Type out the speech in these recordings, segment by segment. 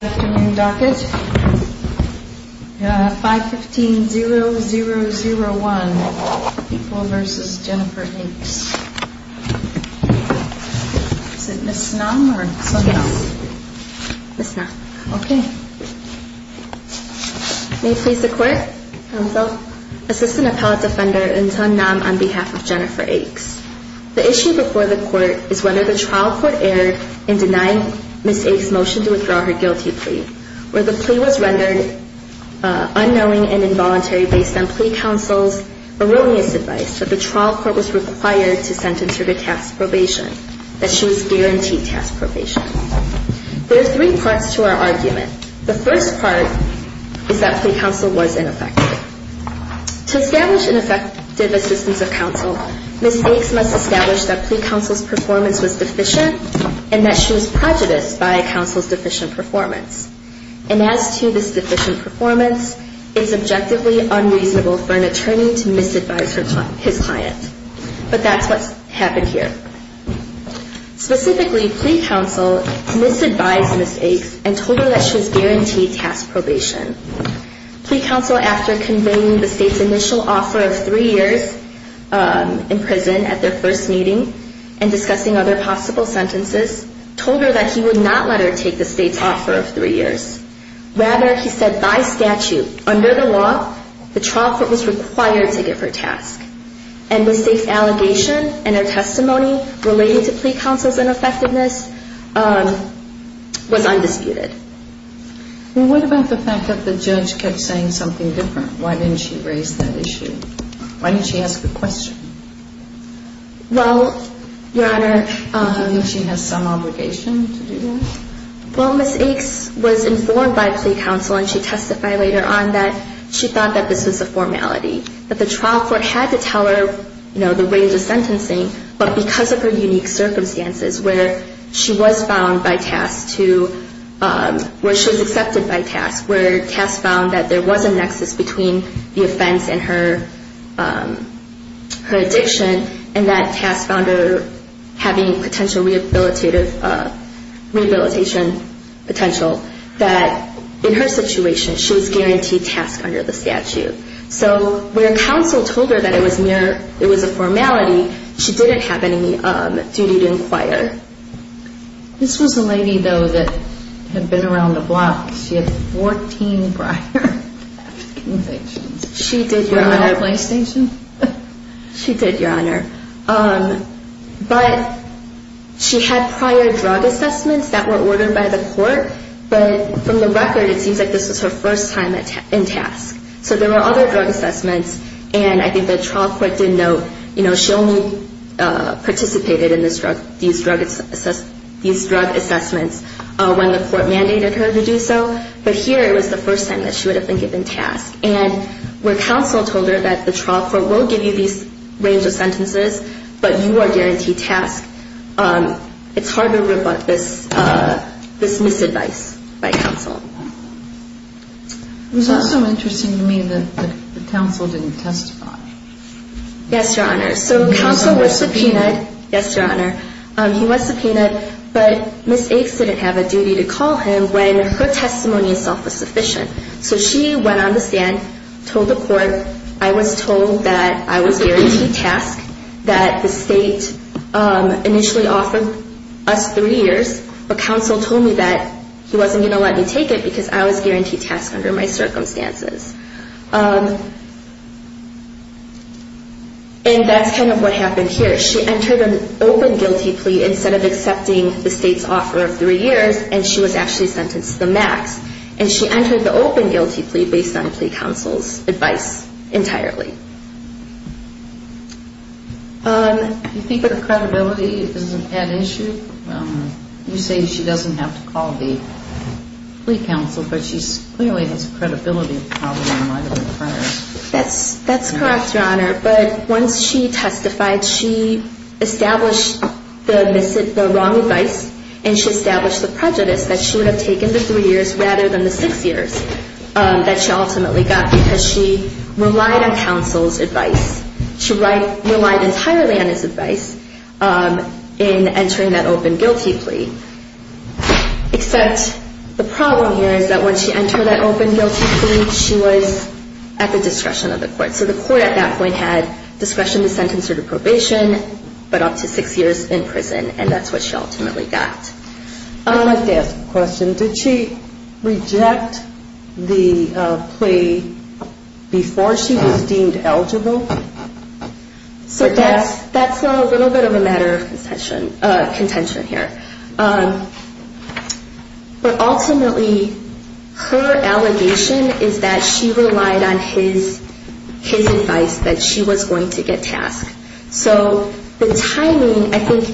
Good afternoon, docket. 515-0001, people v. Jennifer Akes. Is it Ms. Nam or Son-Nam? Yes. Ms. Nam. Okay. May it please the Court. Counsel. Assistant Appellate Defender and Son-Nam on behalf of Jennifer Akes. The issue before the Court is whether the trial court erred in denying Ms. Akes' motion to withdraw her guilty plea, where the plea was rendered unknowing and involuntary based on plea counsel's erroneous advice that the trial court was required to sentence her to task probation, that she was guaranteed task probation. There are three parts to our argument. The first part is that plea counsel was ineffective. To establish an effective assistance of counsel, Ms. Akes must establish that plea counsel's performance was deficient and that she was prejudiced by a counsel's deficient performance. And as to this deficient performance, it's objectively unreasonable for an attorney to misadvise his client. But that's what's happened here. Specifically, plea counsel misadvised Ms. Akes and told her that she was guaranteed task probation. Plea counsel, after conveying the State's initial offer of three years in prison at their first meeting and discussing other possible sentences, told her that he would not let her take the State's offer of three years. Rather, he said by statute, under the law, the trial court was required to give her task. And the State's allegation and her testimony related to plea counsel's ineffectiveness was undisputed. Well, what about the fact that the judge kept saying something different? Why didn't she raise that issue? Why didn't she ask the question? Well, Your Honor... Do you think she has some obligation to do that? Well, Ms. Akes was informed by plea counsel, and she testified later on, that she thought that this was a formality, that the trial court had to tell her, you know, the range of sentencing, but because of her unique circumstances, where she was found by task to, where she was accepted by task, where task found that there was a nexus between the offense and her addiction, and that task found her having potential rehabilitation potential, that in her situation, she was guaranteed task under the statute. So where counsel told her that it was mere, it was a formality, she didn't have any duty to inquire. This was a lady, though, that had been around the block. She had 14 prior convictions. She did, Your Honor. Was she on a PlayStation? She did, Your Honor. But she had prior drug assessments that were ordered by the court, but from the record, it seems like this was her first time in task. So there were other drug assessments, and I think the trial court did note, you know, she only participated in these drug assessments when the court mandated her to do so, but here it was the first time that she would have been given task. And where counsel told her that the trial court will give you these range of sentences, but you are guaranteed task, it's hard to rebut this misadvice by counsel. It was also interesting to me that the counsel didn't testify. Yes, Your Honor. So counsel was subpoenaed. Yes, Your Honor. He was subpoenaed, but Ms. Akes didn't have a duty to call him when her testimony itself was sufficient. So she went on the stand, told the court I was told that I was guaranteed task, that the state initially offered us three years, but counsel told me that he wasn't going to let me take it because I was guaranteed task under my circumstances. And that's kind of what happened here. She entered an open guilty plea instead of accepting the state's offer of three years, and she was actually sentenced to the max. And she entered the open guilty plea based on the plea counsel's advice entirely. Do you think her credibility is an issue? You say she doesn't have to call the plea counsel, but she clearly has a credibility problem in light of the premise. That's correct, Your Honor. But once she testified, she established the wrong advice, and she established the prejudice that she would have taken the three years rather than the six years that she ultimately got because she relied on counsel's advice. She relied entirely on his advice in entering that open guilty plea. Except the problem here is that when she entered that open guilty plea, she was at the discretion of the court. So the court at that point had discretion to sentence her to probation, but up to six years in prison, and that's what she ultimately got. I'd like to ask a question. Did she reject the plea before she was deemed eligible? So that's a little bit of a matter of contention here. But ultimately, her allegation is that she relied on his advice that she was going to get tasked. So the timing, I think,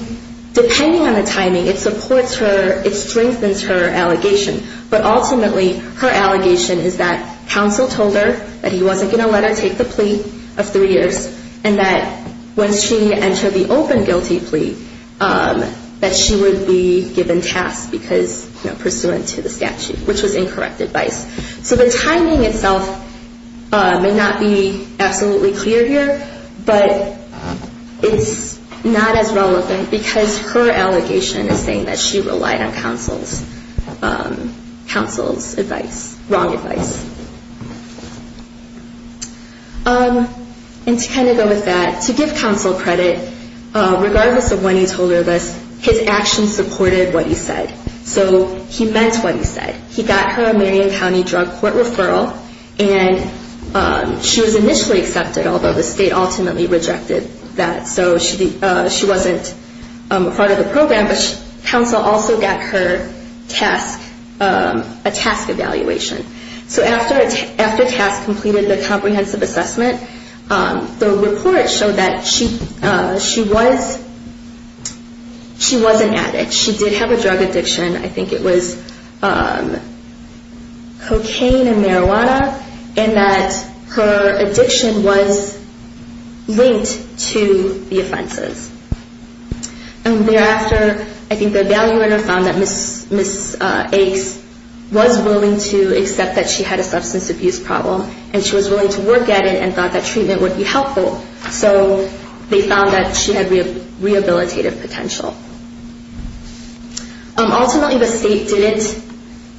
depending on the timing, it supports her, it strengthens her allegation. But ultimately, her allegation is that counsel told her that he wasn't going to let her take the plea of three years, and that once she entered the open guilty plea, that she would be given tasks because, you know, pursuant to the statute, which was incorrect advice. So the timing itself may not be absolutely clear here, but it's not as relevant because her allegation is saying that she relied on counsel's advice, wrong advice. And to kind of go with that, to give counsel credit, regardless of when he told her this, his actions supported what he said. So he meant what he said. He got her a Marion County Drug Court referral, and she was initially accepted, although the state ultimately rejected that. So she wasn't part of the program, but counsel also got her a task evaluation. So after TASC completed the comprehensive assessment, the report showed that she was an addict. She did have a drug addiction. I think it was cocaine and marijuana, and that her addiction was linked to the offenses. And thereafter, I think the evaluator found that Ms. Akes was willing to accept that she had a substance abuse problem, and she was willing to work at it and thought that treatment would be helpful. So they found that she had rehabilitative potential. Ultimately, the state didn't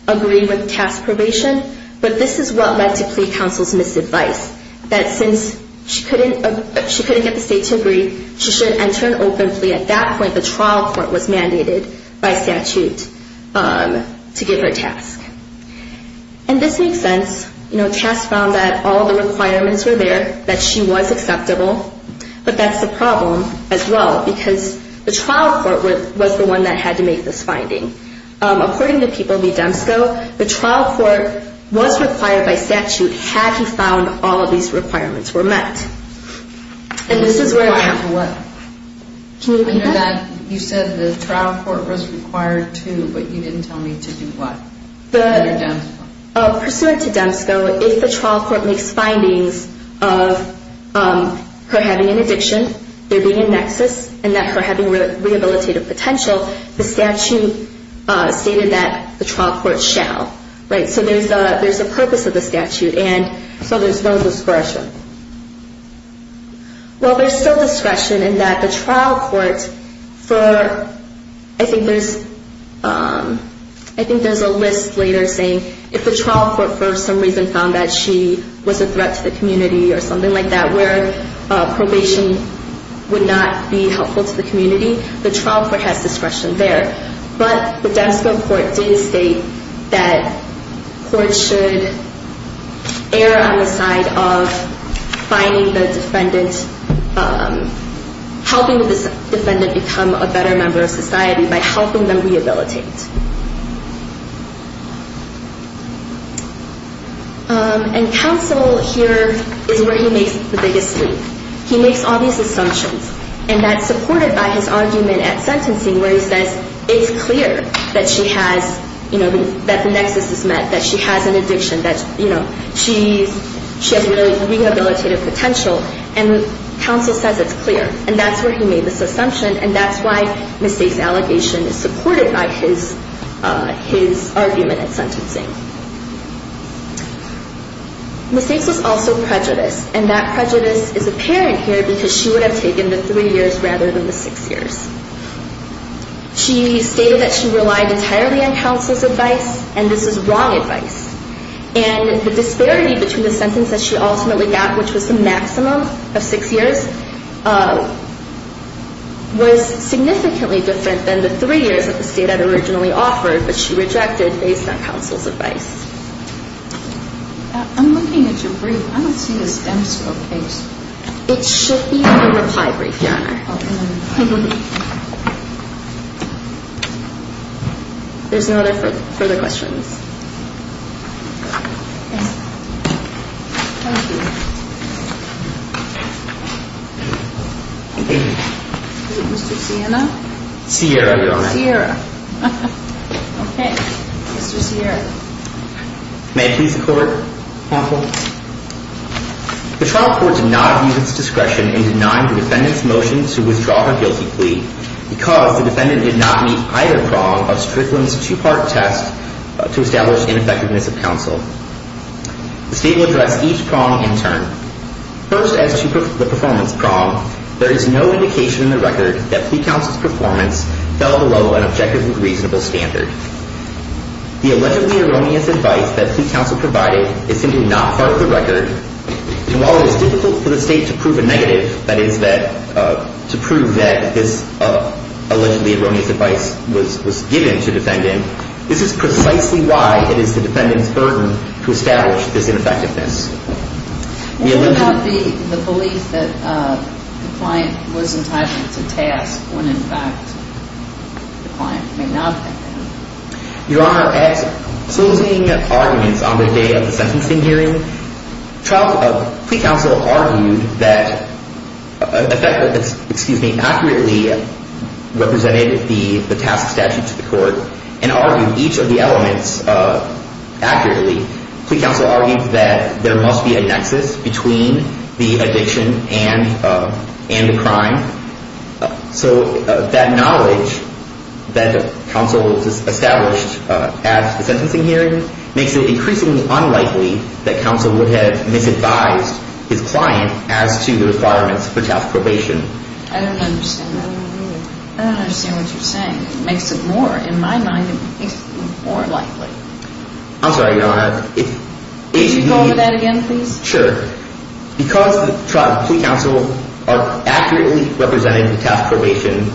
agree with TASC's probation, but this is what led to plea counsel's misadvice, that since she couldn't get the state to agree, she should enter an open plea. At that point, the trial court was mandated by statute to give her a task. And this makes sense. You know, TASC found that all the requirements were there, that she was acceptable, but that's the problem as well, because the trial court was the one that had to make this finding. According to People v. Demsko, the trial court was required by statute had he found all of these requirements were met. And this is where we're at. Can you repeat that? You said the trial court was required to, but you didn't tell me to do what? Pursuant to Demsko, if the trial court makes findings of her having an addiction, there being a nexus, and that her having rehabilitative potential, the statute stated that the trial court shall. So there's a purpose of the statute, and so there's no discretion. Well, there's still discretion in that the trial court for, I think there's a list later saying, if the trial court for some reason found that she was a threat to the community or something like that, where probation would not be helpful to the community, the trial court has discretion there. But the Demsko court did state that courts should err on the side of finding the defendant, helping the defendant become a better member of society by helping them rehabilitate. And counsel here is where he makes the biggest leap. He makes all these assumptions, and that's supported by his argument at sentencing where he says, it's clear that she has, you know, that the nexus is met, that she has an addiction, that, you know, she has really rehabilitative potential, and counsel says it's clear. And that's where he made this assumption, and that's why mistakes allegation is supported by his argument at sentencing. Mistakes is also prejudice, and that prejudice is apparent here because she would have taken the three years rather than the six years. She stated that she relied entirely on counsel's advice, and this is wrong advice. And the disparity between the sentence that she ultimately got, which was the maximum of six years, was significantly different than the three years that the state had originally offered, but she rejected based on counsel's advice. I'm looking at your brief. I don't see the stem scope page. It should be in the reply brief, Your Honor. There's no further questions. Thank you. Thank you. Is it Mr. Sienna? Sierra, Your Honor. Sierra. Okay. Mr. Sierra. May I please the court, counsel? The trial court did not abuse its discretion in denying the defendant's motion to withdraw her guilty plea because the defendant did not meet either prong of Strickland's two-part test to establish ineffectiveness of counsel. The state will address each prong in turn. First, as to the performance prong, there is no indication in the record that plea counsel's performance fell below an objectively reasonable standard. The allegedly erroneous advice that plea counsel provided is simply not part of the record, and while it is difficult for the state to prove a negative, that is, to prove that this allegedly erroneous advice was given to the defendant, this is precisely why it is the defendant's burden to establish this ineffectiveness. What about the belief that the client was entitled to task when, in fact, the client may not have been? Your Honor, at closing arguments on the day of the sentencing hearing, plea counsel argued that, excuse me, accurately represented the task statute to the court and argued each of the elements accurately. Plea counsel argued that there must be a nexus between the addiction and the crime, so that knowledge that counsel established at the sentencing hearing makes it increasingly unlikely that counsel would have misadvised his client as to the requirements for task probation. I don't understand that at all. I don't understand what you're saying. It makes it more, in my mind, it makes it more likely. I'm sorry, Your Honor. Could you go over that again, please? Sure. Because plea counsel accurately represented the task probation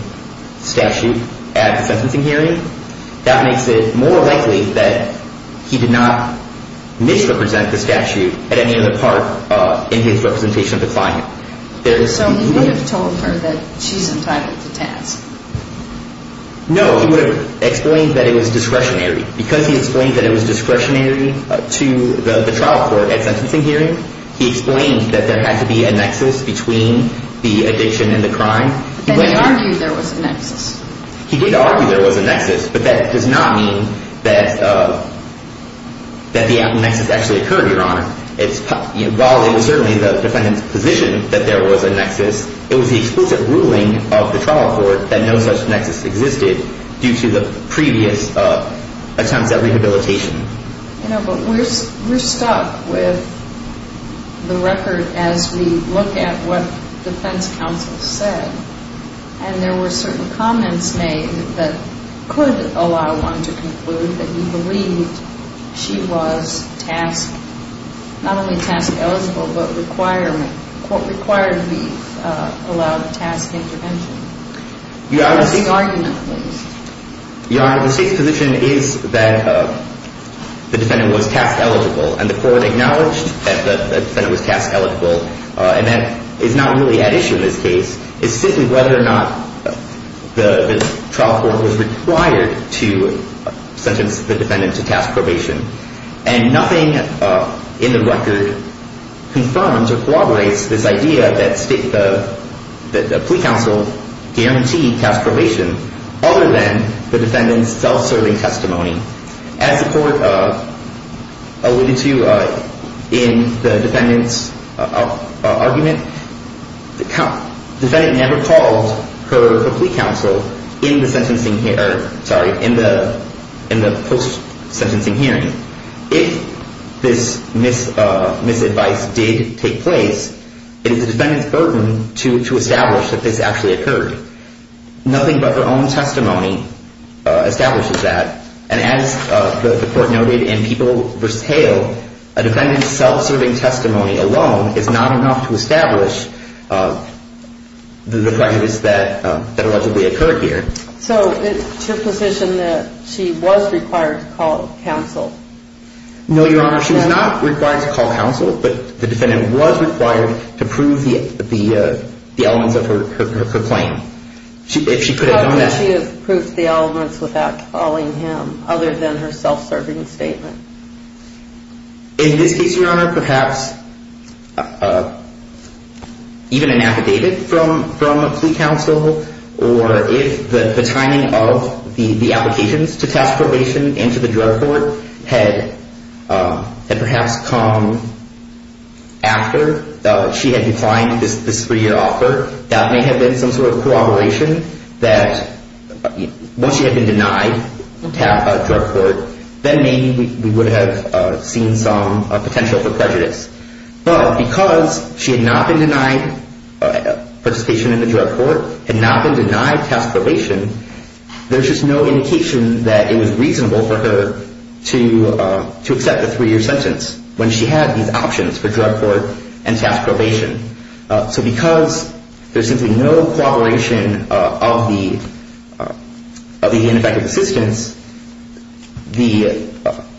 statute at the sentencing hearing, that makes it more likely that he did not misrepresent the statute at any other part in his representation of the client. So he would have told her that she's entitled to task. No, he would have explained that it was discretionary. Because he explained that it was discretionary to the trial court at sentencing hearing, he explained that there had to be a nexus between the addiction and the crime. But he argued there was a nexus. He did argue there was a nexus, but that does not mean that the nexus actually occurred, Your Honor. While it was certainly the defendant's position that there was a nexus, it was the explicit ruling of the trial court that no such nexus existed due to the previous attempts at rehabilitation. You know, but we're stuck with the record as we look at what defense counsel said. And there were certain comments made that could allow one to conclude that he believed she was tasked, not only task eligible, but required the allowed task intervention. Your Honor, the state's position is that the defendant was task eligible, and the court acknowledged that the defendant was task eligible. And that is not really at issue in this case. It's simply whether or not the trial court was required to sentence the defendant to task probation. And nothing in the record confirms or corroborates this idea that the plea counsel guaranteed task probation other than the defendant's self-serving testimony. As the court alluded to in the defendant's argument, the defendant never called her plea counsel in the post-sentencing hearing. If this misadvice did take place, it is the defendant's burden to establish that this actually occurred. Nothing but her own testimony establishes that. And as the court noted in People v. Hale, a defendant's self-serving testimony alone is not enough to establish the prejudice that allegedly occurred here. So it's your position that she was required to call counsel? No, Your Honor, she was not required to call counsel, but the defendant was required to prove the elements of her claim. How could she have proved the elements without calling him other than her self-serving statement? In this case, Your Honor, perhaps even an affidavit from a plea counsel, or if the timing of the applications to task probation and to the drug court had perhaps come after she had declined this three-year offer, that may have been some sort of corroboration that once she had been denied drug court, then maybe we would have seen some potential for prejudice. But because she had not been denied participation in the drug court, had not been denied task probation, there's just no indication that it was reasonable for her to accept a three-year sentence when she had these options for drug court and task probation. So because there's simply no corroboration of the ineffective assistance, the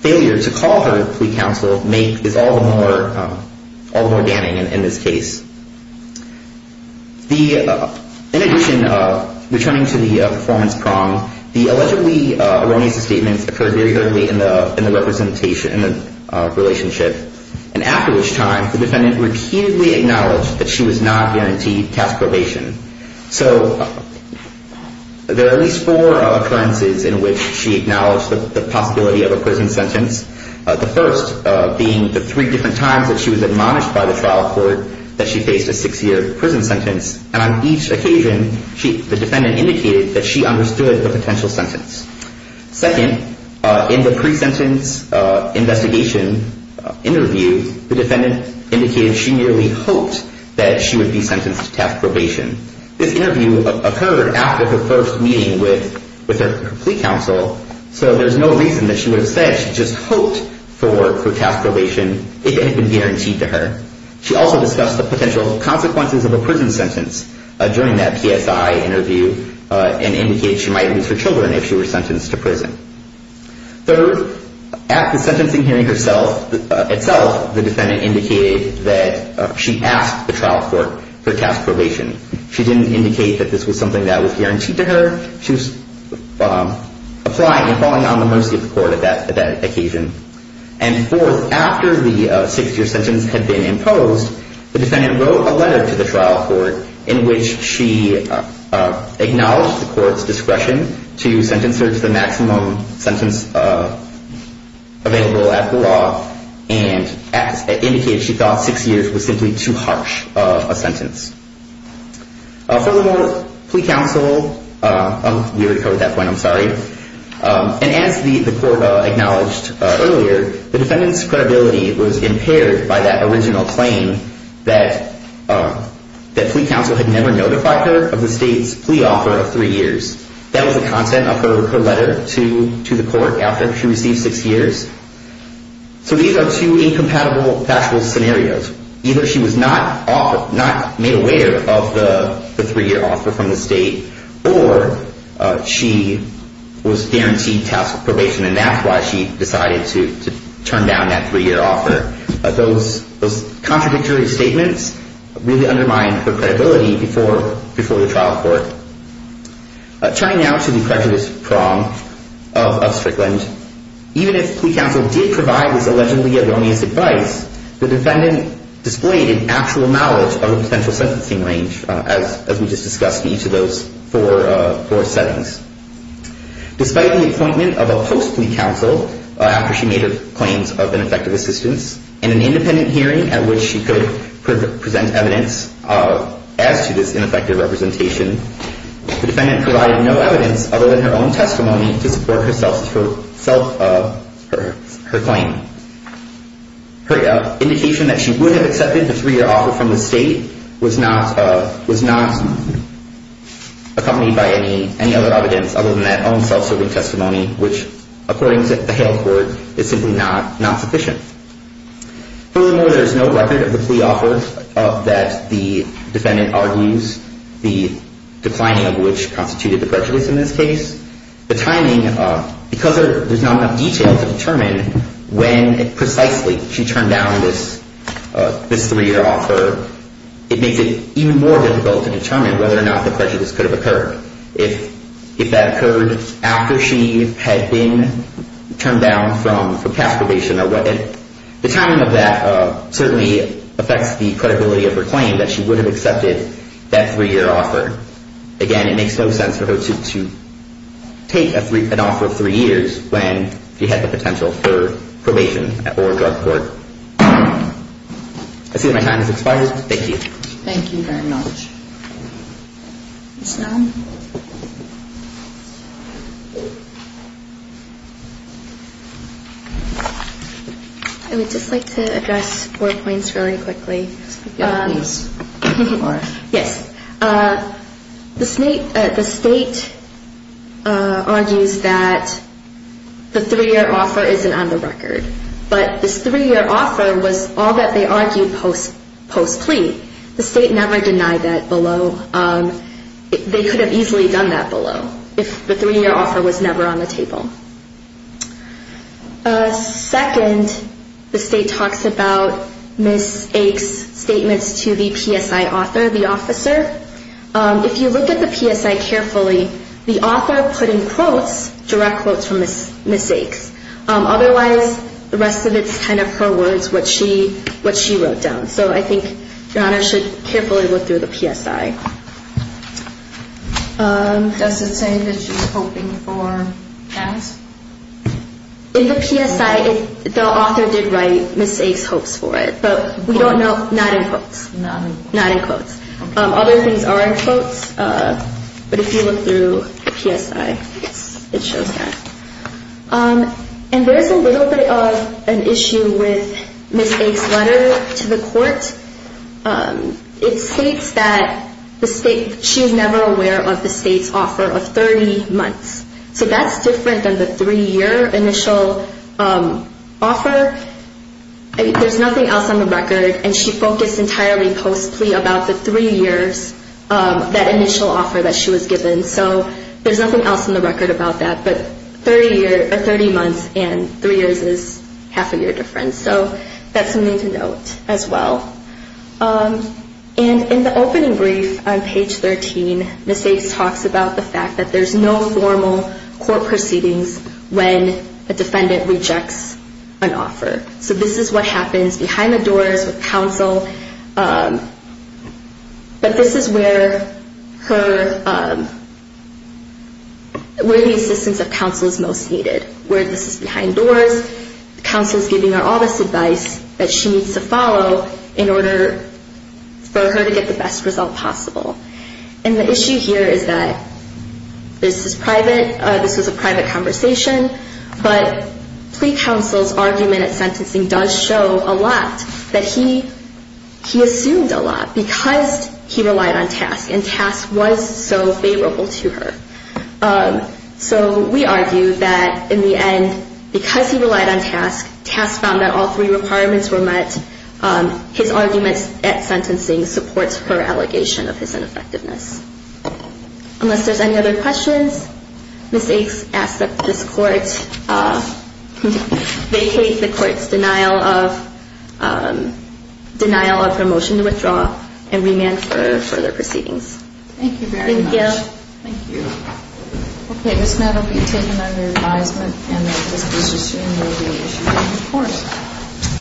failure to call her plea counsel is all the more damning in this case. In addition, returning to the performance prong, the allegedly erroneous statements occurred very early in the relationship, and after which time the defendant repeatedly acknowledged that she was not guaranteed task probation. So there are at least four occurrences in which she acknowledged the possibility of a prison sentence, the first being the three different times that she was admonished by the trial court that she faced a six-year prison sentence, and on each occasion the defendant indicated that she understood the potential sentence. Second, in the pre-sentence investigation interview, the defendant indicated she merely hoped that she would be sentenced to task probation. This interview occurred after her first meeting with her plea counsel, so there's no reason that she would have said she just hoped for task probation if it had been guaranteed to her. She also discussed the potential consequences of a prison sentence during that PSI interview and indicated she might lose her children if she were sentenced to prison. Third, at the sentencing hearing itself, the defendant indicated that she asked the trial court for task probation. She didn't indicate that this was something that was guaranteed to her. She was applying and falling on the mercy of the court at that occasion. And fourth, after the six-year sentence had been imposed, the defendant wrote a letter to the trial court in which she acknowledged the court's discretion to sentence her to the maximum sentence available at the law and indicated she thought six years was simply too harsh a sentence. Furthermore, plea counsel—we already covered that point, I'm sorry. And as the court acknowledged earlier, the defendant's credibility was impaired by that original claim that plea counsel had never notified her of the state's plea offer of three years. That was the content of her letter to the court after she received six years. So these are two incompatible factual scenarios. Either she was not made aware of the three-year offer from the state or she was guaranteed task probation, and that's why she decided to turn down that three-year offer. Those contradictory statements really undermined her credibility before the trial court. Turning now to the prejudice prong of Strickland, even if plea counsel did provide this allegedly erroneous advice, the defendant displayed an actual knowledge of her potential sentencing range, as we just discussed in each of those four settings. Despite the appointment of a post-plea counsel after she made her claims of ineffective assistance, in an independent hearing at which she could present evidence as to this ineffective representation, the defendant provided no evidence other than her own testimony to support her claim. Her indication that she would have accepted the three-year offer from the state was not accompanied by any other evidence other than that own self-serving testimony, which, according to the Hale court, is simply not sufficient. Furthermore, there is no record of the plea offer that the defendant argues, the declining of which constituted the prejudice in this case. The timing, because there's not enough detail to determine when precisely she turned down this three-year offer, it makes it even more difficult to determine whether or not the prejudice could have occurred. If that occurred after she had been turned down for castigation or whatever, the timing of that certainly affects the credibility of her claim that she would have accepted that three-year offer. Again, it makes no sense for her to take an offer of three years when she had the potential for probation or drug court. I see that my time has expired. Thank you. Thank you very much. Ms. Nahum? I would just like to address four points very quickly. Yes, please, Laura. Yes. The state argues that the three-year offer isn't on the record, but this three-year offer was all that they argued post-plea. The state never denied that below. They could have easily done that below if the three-year offer was never on the table. Second, the state talks about Ms. Aik's statements to the PSI author. If you look at the PSI carefully, the author put in quotes, direct quotes from Ms. Aik's. Otherwise, the rest of it is kind of her words, what she wrote down. So I think Your Honor should carefully look through the PSI. Does it say that she's hoping for that? In the PSI, the author did write Ms. Aik's hopes for it, but we don't know, not in quotes. Not in quotes. Other things are in quotes, but if you look through the PSI, it shows that. And there's a little bit of an issue with Ms. Aik's letter to the court. It states that she's never aware of the state's offer of 30 months. So that's different than the three-year initial offer. There's nothing else on the record. And she focused entirely post-plea about the three years, that initial offer that she was given. So there's nothing else on the record about that. But 30 months and three years is half a year difference. So that's something to note as well. And in the opening brief on page 13, Ms. Aik talks about the fact that there's no formal court proceedings when a defendant rejects an offer. So this is what happens behind the doors with counsel. But this is where the assistance of counsel is most needed, where this is behind doors. Counsel is giving her all this advice that she needs to follow in order for her to get the best result possible. And the issue here is that this is private. This is a private conversation. But plea counsel's argument at sentencing does show a lot that he assumed a lot because he relied on TASC. And TASC was so favorable to her. So we argue that in the end, because he relied on TASC, TASC found that all three requirements were met. His arguments at sentencing supports her allegation of his ineffectiveness. Unless there's any other questions, Ms. Aik asks that this court vacate the court's denial of her motion to withdraw and remand for further proceedings. Thank you very much. Thank you. Thank you. Okay. Ms. Maddow will be taken under advisement, and this decision will be issued in court.